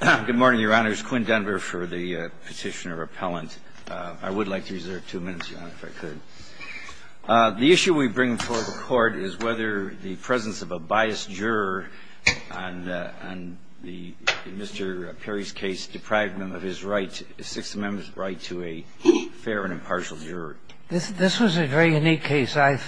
Good morning, Your Honors. Quinn Denver for the petitioner appellant. I would like to reserve two minutes, Your Honor, if I could. The issue we bring before the Court is whether the presence of a biased juror on Mr. Perry's case deprived him of his right, the Sixth Amendment right, to a fair and impartial juror. This was a very unique case. I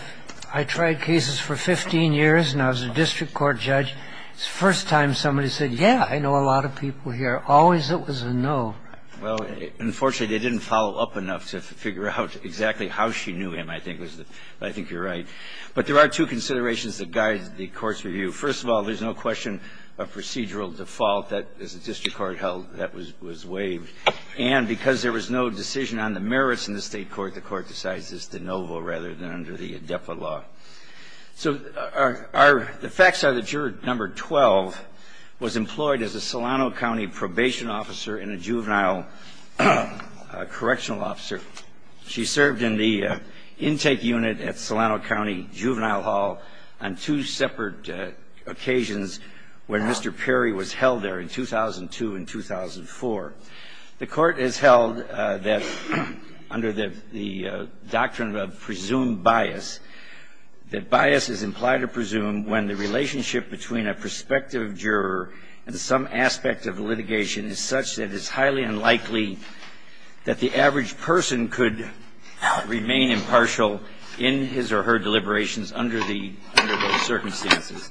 tried cases for 15 years, and I was a district court judge. It's the first time somebody said, yeah, I know a lot of people here. Always it was a no. Well, unfortunately, they didn't follow up enough to figure out exactly how she knew him, I think. But I think you're right. But there are two considerations that guide the Court's review. First of all, there's no question of procedural default. That, as the district court held, that was waived. And because there was no decision on the merits in the State court, the Court decides it's de novo rather than under the depot law. So the facts are that juror number 12 was employed as a Solano County probation officer and a juvenile correctional officer. She served in the intake unit at Solano County Juvenile Hall on two separate occasions when Mr. Perry was held there in 2002 and 2004. The Court has held that under the doctrine of presumed bias, that bias is implied to presume when the relationship between a prospective juror and some aspect of litigation is such that it's highly unlikely that the average person could remain impartial in his or her deliberations under the circumstances.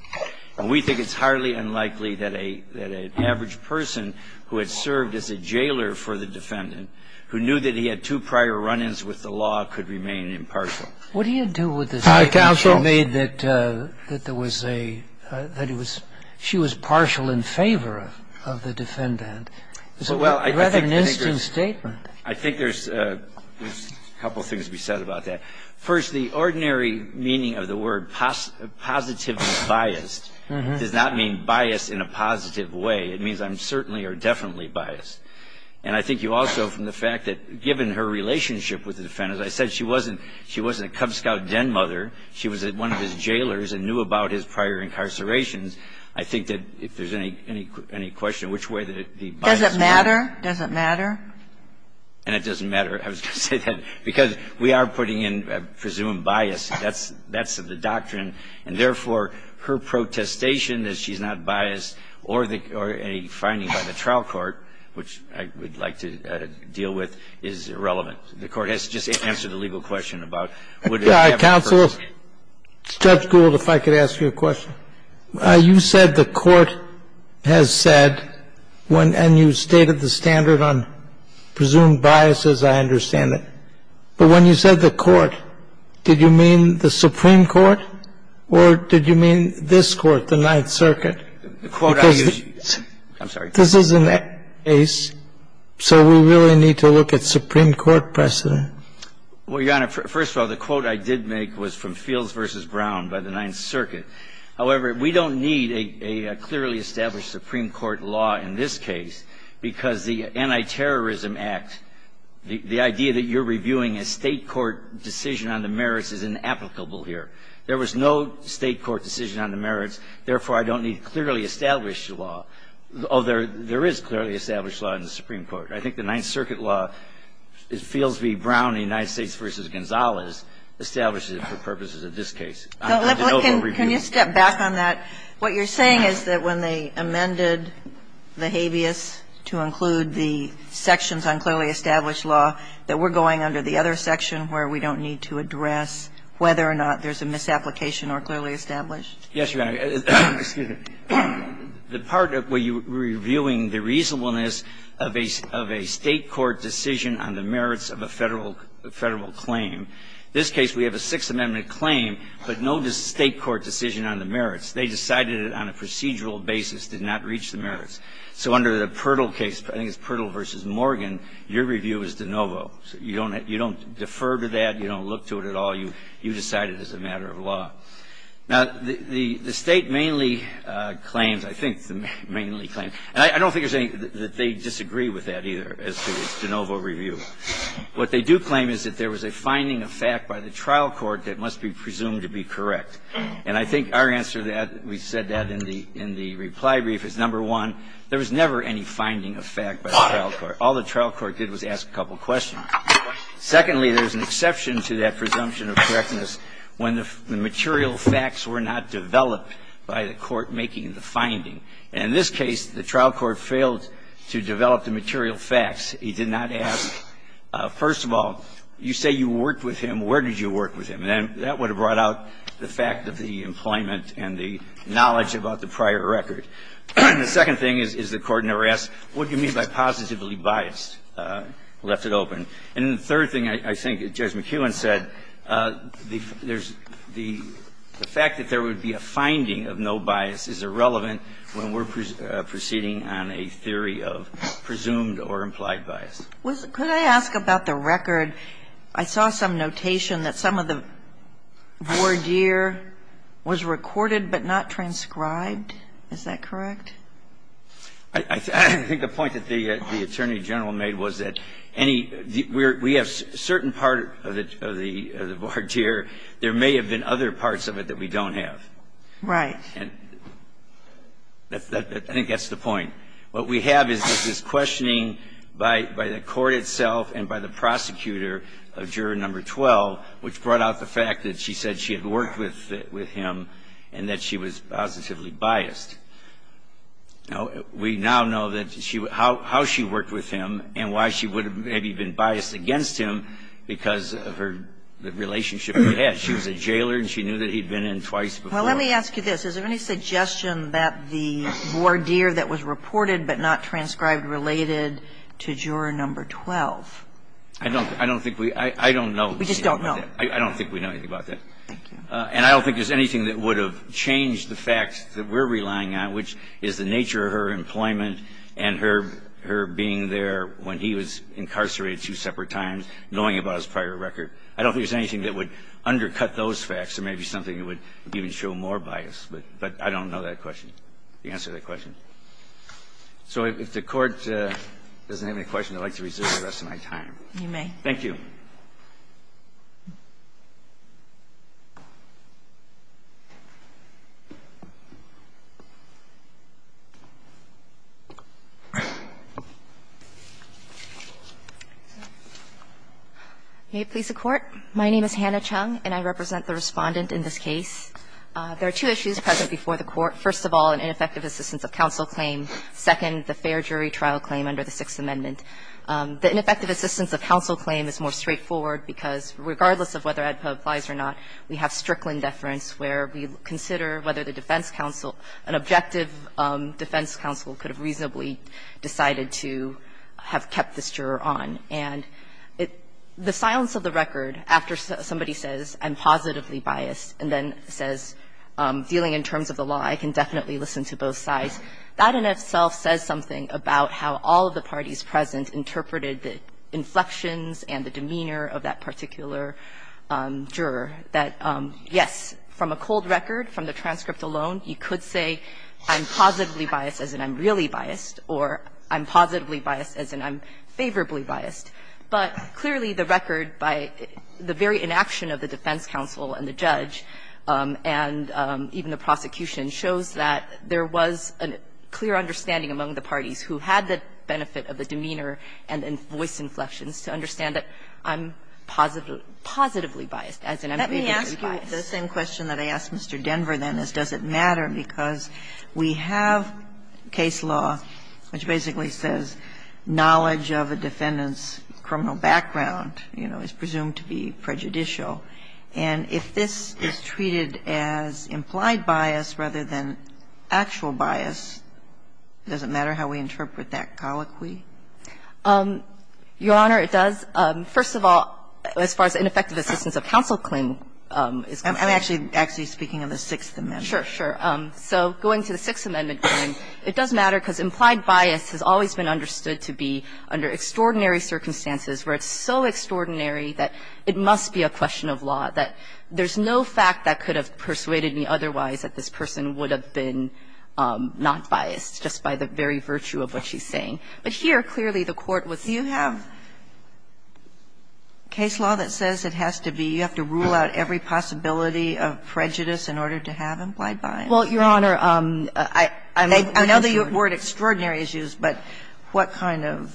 And we think it's highly unlikely that an average person who had served as a jailer for the defendant, who knew that he had two prior run-ins with the law, could remain impartial. What do you do with the statement you made that there was a – that it was – she was partial in favor of the defendant? Is it rather an instant statement? I think there's a couple of things to be said about that. First, the ordinary meaning of the word positively biased does not mean biased in a positive way. It means I'm certainly or definitely biased. And I think you also, from the fact that given her relationship with the defendant, as I said, she wasn't a Cub Scout den mother. She was at one of his jailers and knew about his prior incarcerations. I think that if there's any question of which way the bias was. Does it matter? Does it matter? And it doesn't matter, I was going to say that, because we are putting in, I presume, bias. That's the doctrine. And therefore, her protestation that she's not biased, or a finding by the trial court, which I would like to deal with, is irrelevant. The Court has just answered the legal question about would it have been a personal case. All right. Counsel, Judge Gould, if I could ask you a question. You said the Court has said, and you stated the standard on presumed biases, I understand it. But when you said the Court, did you mean the Supreme Court or did you mean this Court, the Ninth Circuit? The quote I used, I'm sorry. This isn't that case, so we really need to look at Supreme Court precedent. Well, Your Honor, first of all, the quote I did make was from Fields v. Brown by the Supreme Court. I don't need to clearly establish Supreme Court law in this case because the Antiterrorism Act, the idea that you're reviewing a State court decision on the merits is inapplicable here. There was no State court decision on the merits, therefore, I don't need to clearly establish the law. Oh, there is clearly established law in the Supreme Court. I think the Ninth Circuit law, Fields v. Brown in the United States v. Gonzalez, establishes it for purposes of this case. Can you step back on that? What you're saying is that when they amended the habeas to include the sections on clearly established law, that we're going under the other section where we don't need to address whether or not there's a misapplication or clearly established? Yes, Your Honor. The part where you're reviewing the reasonableness of a State court decision on the merits of a Federal claim. This case, we have a Sixth Amendment claim, but no State court decision on the merits. They decided it on a procedural basis, did not reach the merits. So under the Pirtle case, I think it's Pirtle v. Morgan, your review is de novo. You don't defer to that. You don't look to it at all. You decide it as a matter of law. Now, the State mainly claims, I think, mainly claims, and I don't think they disagree with that either as to its de novo review. What they do claim is that there was a finding of fact by the trial court that must be presumed to be correct. And I think our answer to that, we said that in the reply brief, is, number one, there was never any finding of fact by the trial court. All the trial court did was ask a couple of questions. Secondly, there's an exception to that presumption of correctness when the material facts were not developed by the court making the finding. And in this case, the trial court failed to develop the material facts. He did not ask, first of all, you say you worked with him. Where did you work with him? And that would have brought out the fact of the employment and the knowledge about the prior record. The second thing is the court never asked, what do you mean by positively biased? Left it open. And the third thing, I think, Judge McKeown said, the fact that there would be a finding of no bias is irrelevant when we're proceeding on a theory of presumed or implied bias. Could I ask about the record? I saw some notation that some of the voir dire was recorded but not transcribed. Is that correct? I think the point that the Attorney General made was that any we have a certain part of the voir dire, there may have been other parts of it that we don't have. Right. And I think that's the point. What we have is this questioning by the court itself and by the prosecutor of Juror No. 12, which brought out the fact that she said she had worked with him and that she was positively biased. Now, we now know that she was – how she worked with him and why she would have maybe been biased against him because of her – the relationship he had. She was a jailer and she knew that he'd been in twice before. Well, let me ask you this. Is there any suggestion that the voir dire that was reported but not transcribed related to Juror No. 12? I don't think we – I don't know. We just don't know. I don't think we know anything about that. Thank you. And I don't think there's anything that would have changed the facts that we're relying on, which is the nature of her employment and her being there when he was incarcerated two separate times, knowing about his prior record. I don't think there's anything that would undercut those facts. There may be something that would even show more bias, but I don't know that question, the answer to that question. So if the Court doesn't have any questions, I'd like to reserve the rest of my time. You may. Thank you. May it please the Court. My name is Hannah Chung, and I represent the Respondent in this case. There are two issues present before the Court. First of all, an ineffective assistance of counsel claim. Second, the fair jury trial claim under the Sixth Amendment. The ineffective assistance of counsel claim is more straightforward because regardless of whether AEDPA applies or not, we have Strickland deference where we consider whether the defense counsel, an objective defense counsel could have reasonably decided to have kept this juror on. And the silence of the record after somebody says, I'm positively biased, and then says, dealing in terms of the law, I can definitely listen to both sides. That in itself says something about how all of the parties present interpreted the inflections and the demeanor of that particular juror. That, yes, from a cold record, from the transcript alone, you could say, I'm positively biased, as in I'm really biased. Or, I'm positively biased, as in I'm favorably biased. But clearly, the record by the very inaction of the defense counsel and the judge and even the prosecution shows that there was a clear understanding among the parties who had the benefit of the demeanor and the voice inflections to understand that I'm positively biased, as in I'm favorably biased. Kagan. The same question that I asked Mr. Denver, then, is does it matter, because we have case law which basically says knowledge of a defendant's criminal background, you know, is presumed to be prejudicial. And if this is treated as implied bias rather than actual bias, does it matter how we interpret that colloquy? Your Honor, it does. First of all, as far as ineffective assistance of counsel claim is concerned. I'm actually speaking of the Sixth Amendment. Sure, sure. So going to the Sixth Amendment claim, it does matter because implied bias has always been understood to be under extraordinary circumstances where it's so extraordinary that it must be a question of law, that there's no fact that could have persuaded me otherwise that this person would have been not biased, just by the very virtue of what she's saying. Case law that says it has to be, you have to rule out every possibility of prejudice in order to have implied bias? Well, Your Honor, I'm not concerned. I know the word extraordinary is used, but what kind of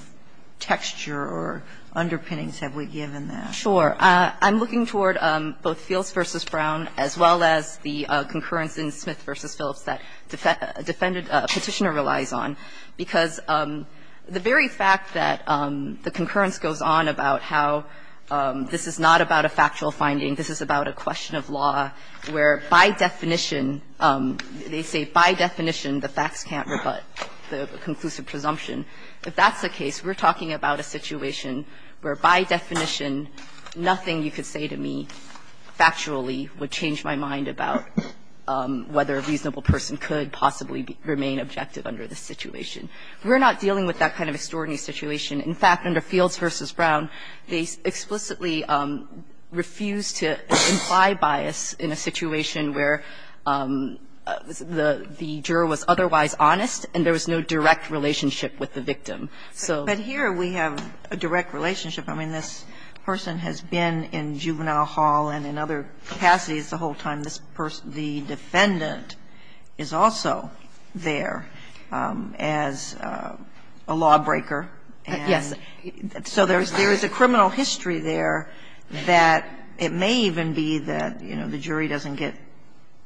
texture or underpinnings have we given that? Sure. I'm looking toward both Fields v. Brown as well as the concurrence in Smith v. Phillips that a petitioner relies on, because the very fact that the concurrence goes on about how this is not about a factual finding, this is about a question of law where, by definition, they say, by definition, the facts can't rebut the conclusive presumption, if that's the case, we're talking about a situation where, by definition, nothing you could say to me, factually, would change my mind about whether a reasonable person could possibly remain objective under this situation. We're not dealing with that kind of extraordinary situation. In fact, under Fields v. Brown, they explicitly refused to imply bias in a situation where the juror was otherwise honest and there was no direct relationship with the victim, so. But here, we have a direct relationship. I mean, this person has been in Juvenile Hall and in other capacities the whole time, this person, the defendant, is also there as a lawbreaker. And so there is a criminal history there that it may even be that, you know, the jury doesn't get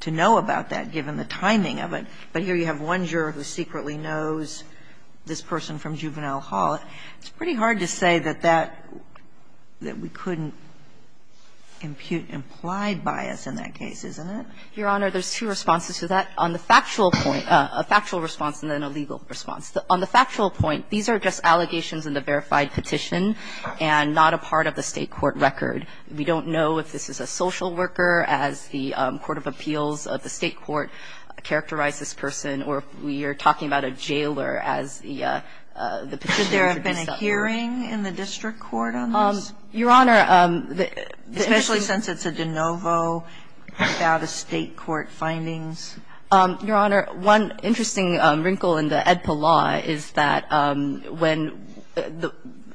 to know about that, given the timing of it. But here you have one juror who secretly knows this person from Juvenile Hall. It's pretty hard to say that that we couldn't impute implied bias in that case, isn't it? Your Honor, there's two responses to that. On the factual point, a factual response and then a legal response. On the factual point, these are just allegations in the verified petition and not a part of the State court record. We don't know if this is a social worker, as the Court of Appeals of the State court characterized this person, or if we are talking about a jailer as the petition introduced that way. There have been a hearing in the district court on this? Your Honor, the interesting one the interesting wrinkle in the Edpa law is that when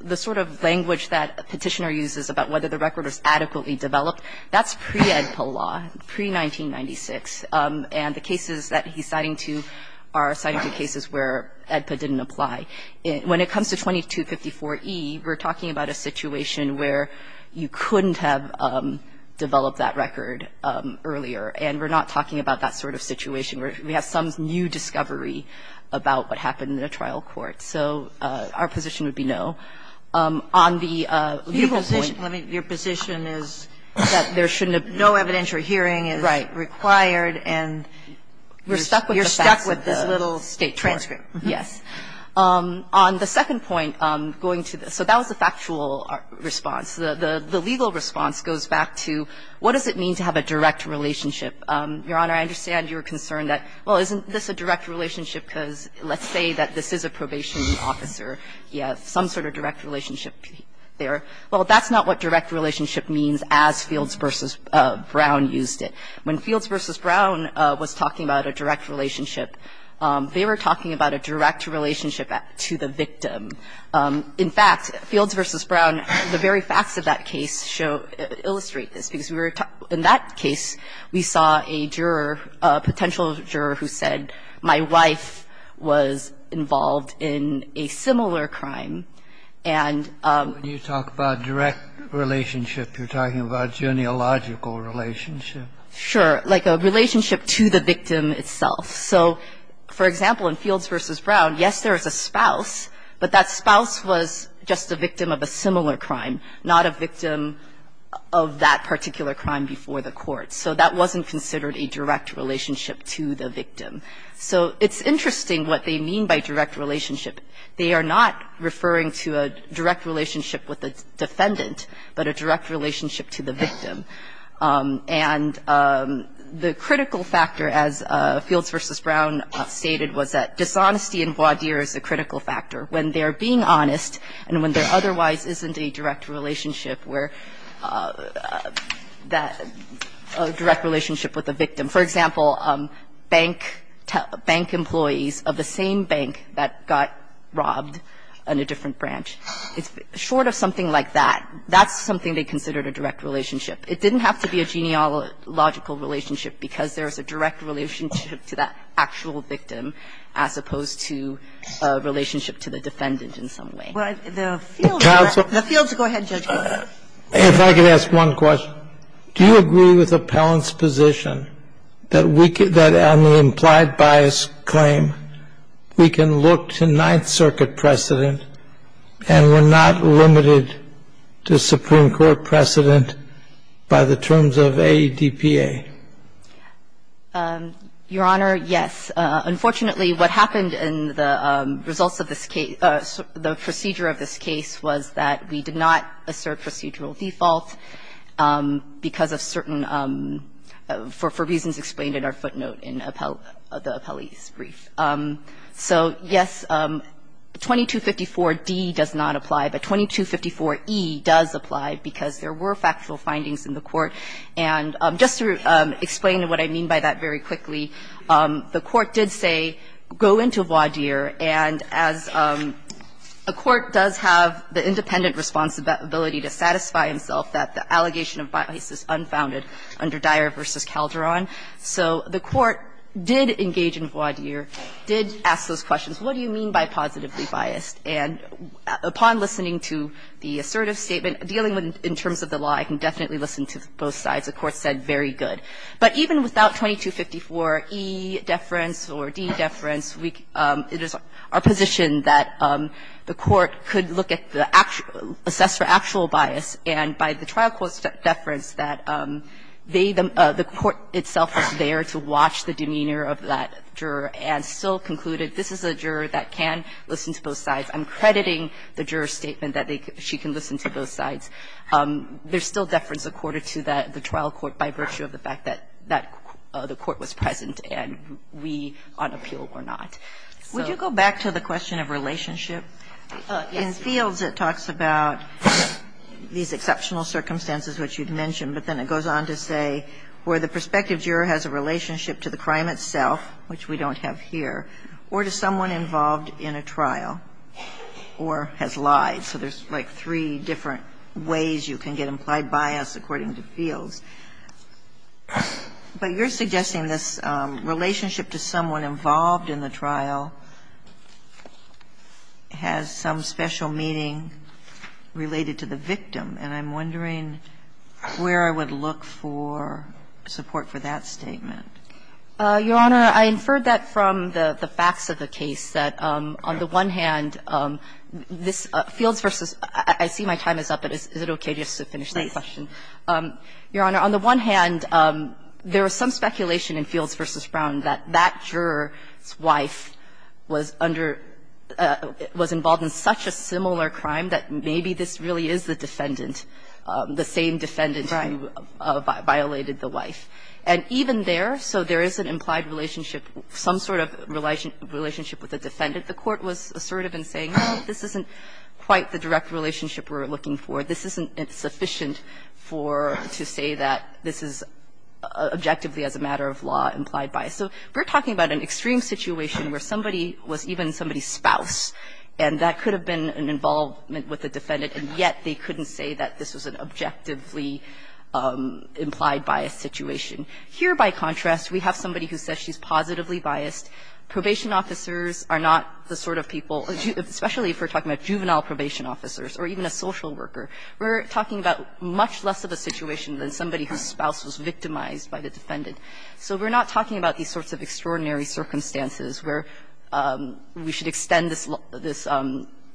the sort of language that a petitioner uses about whether the record was adequately developed, that's pre-Edpa law, pre-1996. And the cases that he's citing to are citing to cases where Edpa didn't apply. When it comes to 2254e, we're talking about a situation where you couldn't have developed that record earlier, and we're not talking about that sort of situation where we have some new discovery about what happened in a trial court. So our position would be no. On the legal point Your position is that there shouldn't have been no evidence or hearing is required, and you're stuck with this little state transcript. Yes. On the second point, going to the so that was the factual response. The legal response goes back to what does it mean to have a direct relationship? Your Honor, I understand you're concerned that, well, isn't this a direct relationship because let's say that this is a probation officer. He has some sort of direct relationship there. Well, that's not what direct relationship means as Fields v. Brown used it. When Fields v. Brown was talking about a direct relationship, they were talking about a direct relationship to the victim. In fact, Fields v. Brown, the very facts of that case show illustrate this, because we were in that case, we saw a juror, a potential juror who said, my wife was involved in a similar crime, and When you talk about direct relationship, you're talking about genealogical relationship. Sure. Like a relationship to the victim itself. So, for example, in Fields v. Brown, yes, there is a spouse, but that spouse was just a victim of a similar crime, not a victim of that particular crime before the court. So that wasn't considered a direct relationship to the victim. So it's interesting what they mean by direct relationship. They are not referring to a direct relationship with the defendant, but a direct relationship to the victim. And the critical factor, as Fields v. Brown stated, was that dishonesty in voir dire is a critical factor. When they're being honest, and when there otherwise isn't a direct relationship where a direct relationship with a victim. For example, bank employees of the same bank that got robbed in a different branch. Short of something like that, that's something they considered a direct relationship. It didn't have to be a genealogical relationship, because there is a direct relationship to that actual victim, as opposed to a relationship to the defendant in some way. Well, the Fields, go ahead, Judge Goldberg. If I could ask one question, do you agree with Appellant's position that on the implied bias claim, we can look to Ninth Circuit precedent, and we're not limited to Supreme Court precedent by the terms of AEDPA? Your Honor, yes. Unfortunately, what happened in the results of this case, the procedure of this case was that we did not assert procedural default because of certain, for reasons explained in our footnote in the appellee's brief. So, yes, 2254D does not apply, but 2254E does apply, because there were factual findings in the court, and just to explain what I mean by that very quickly, the court did say, go into voir dire, and as a court does have the independent responsibility to satisfy himself that the allegation of bias is unfounded under Dyer v. Calderon, so the court did engage in voir dire, did ask those questions, what do you mean by positively biased? And upon listening to the assertive statement, dealing in terms of the law, I can definitely listen to both sides. The court said, very good. But even without 2254E deference or D deference, it is our position that the court could look at the actual, assess for actual bias, and by the trial court's deference that they, the court itself is there to watch the demeanor of that juror and still conclude that this is a juror that can listen to both sides. I'm crediting the juror's statement that they, she can listen to both sides. There's still deference according to the trial court by virtue of the fact that the court was present and we on appeal were not. So go back to the question of relationship. In Fields, it talks about these exceptional circumstances which you've mentioned, but then it goes on to say, where the prospective juror has a relationship to the crime itself, which we don't have here, or to someone involved in a trial, or has lied. So there's like three different ways you can get implied bias according to Fields. But you're suggesting this relationship to someone involved in the trial has some special meaning related to the victim, and I'm wondering where I would look for support for that statement. Your Honor, I inferred that from the facts of the case, that on the one hand, this Fields v. – I see my time is up, but is it okay just to finish that question? Your Honor, on the one hand, there was some speculation in Fields v. Brown that that juror's wife was under – was involved in such a similar crime that maybe this really is the defendant, the same defendant who violated the wife. Right. And even there, so there is an implied relationship, some sort of relationship with the defendant. The Court was assertive in saying, no, this isn't quite the direct relationship we're looking for. This isn't sufficient for – to say that this is objectively, as a matter of law, implied bias. So we're talking about an extreme situation where somebody was even somebody's spouse, and that could have been an involvement with the defendant, and yet they couldn't say that this was an objectively implied bias situation. Here, by contrast, we have somebody who says she's positively biased. Probation officers are not the sort of people – especially if we're talking about juvenile probation officers or even a social worker. We're talking about much less of a situation than somebody whose spouse was victimized by the defendant. So we're not talking about these sorts of extraordinary circumstances where we should extend this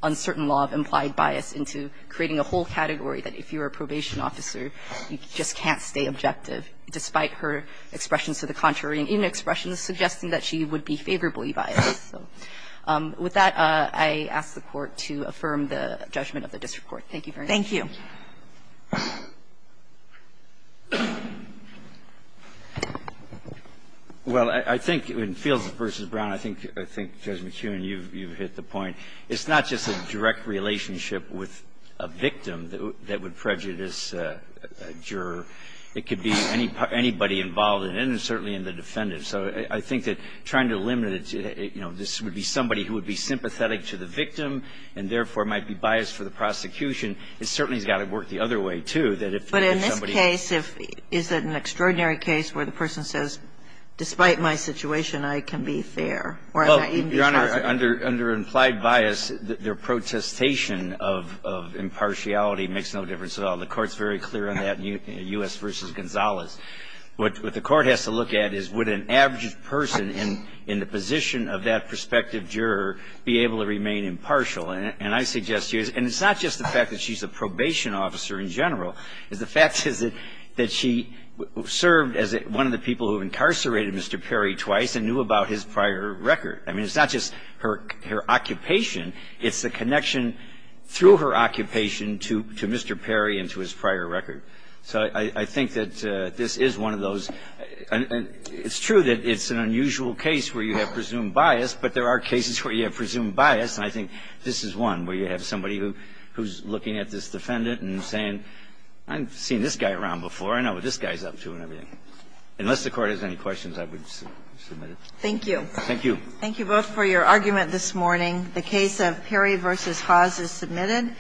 uncertain law of implied bias into creating a whole category that, if you're a probation officer, you just can't stay objective, despite her expressions to the contrary and even expressions suggesting that she would be favorably biased. So with that, I ask the Court to affirm the judgment of the district court. Thank you very much. Thank you. Well, I think in Fields v. Brown, I think, Judge McKeown, you've hit the point. It's not just a direct relationship with a victim that would prejudice a juror. It could be anybody involved in it, and certainly in the defendant. So I think that trying to limit it to, you know, this would be somebody who would be sympathetic to the victim and, therefore, might be biased for the prosecution, it certainly has got to work the other way, too, that if somebody – But in this case, if – is it an extraordinary case where the person says, despite Your Honor, under implied bias, their protestation of impartiality makes no difference at all. The Court's very clear on that in U.S. v. Gonzalez. What the Court has to look at is, would an average person in the position of that prospective juror be able to remain impartial? And I suggest to you – and it's not just the fact that she's a probation officer in general. The fact is that she served as one of the people who incarcerated Mr. Perry twice and knew about his prior record. I mean, it's not just her occupation. It's the connection through her occupation to Mr. Perry and to his prior record. So I think that this is one of those – and it's true that it's an unusual case where you have presumed bias, but there are cases where you have presumed bias, and I think this is one where you have somebody who's looking at this defendant and saying, I've seen this guy around before. I know what this guy's up to and everything. Unless the Court has any questions, I would submit it. Thank you. Thank you. Thank you both for your argument this morning. The case of Perry v. Haas is submitted.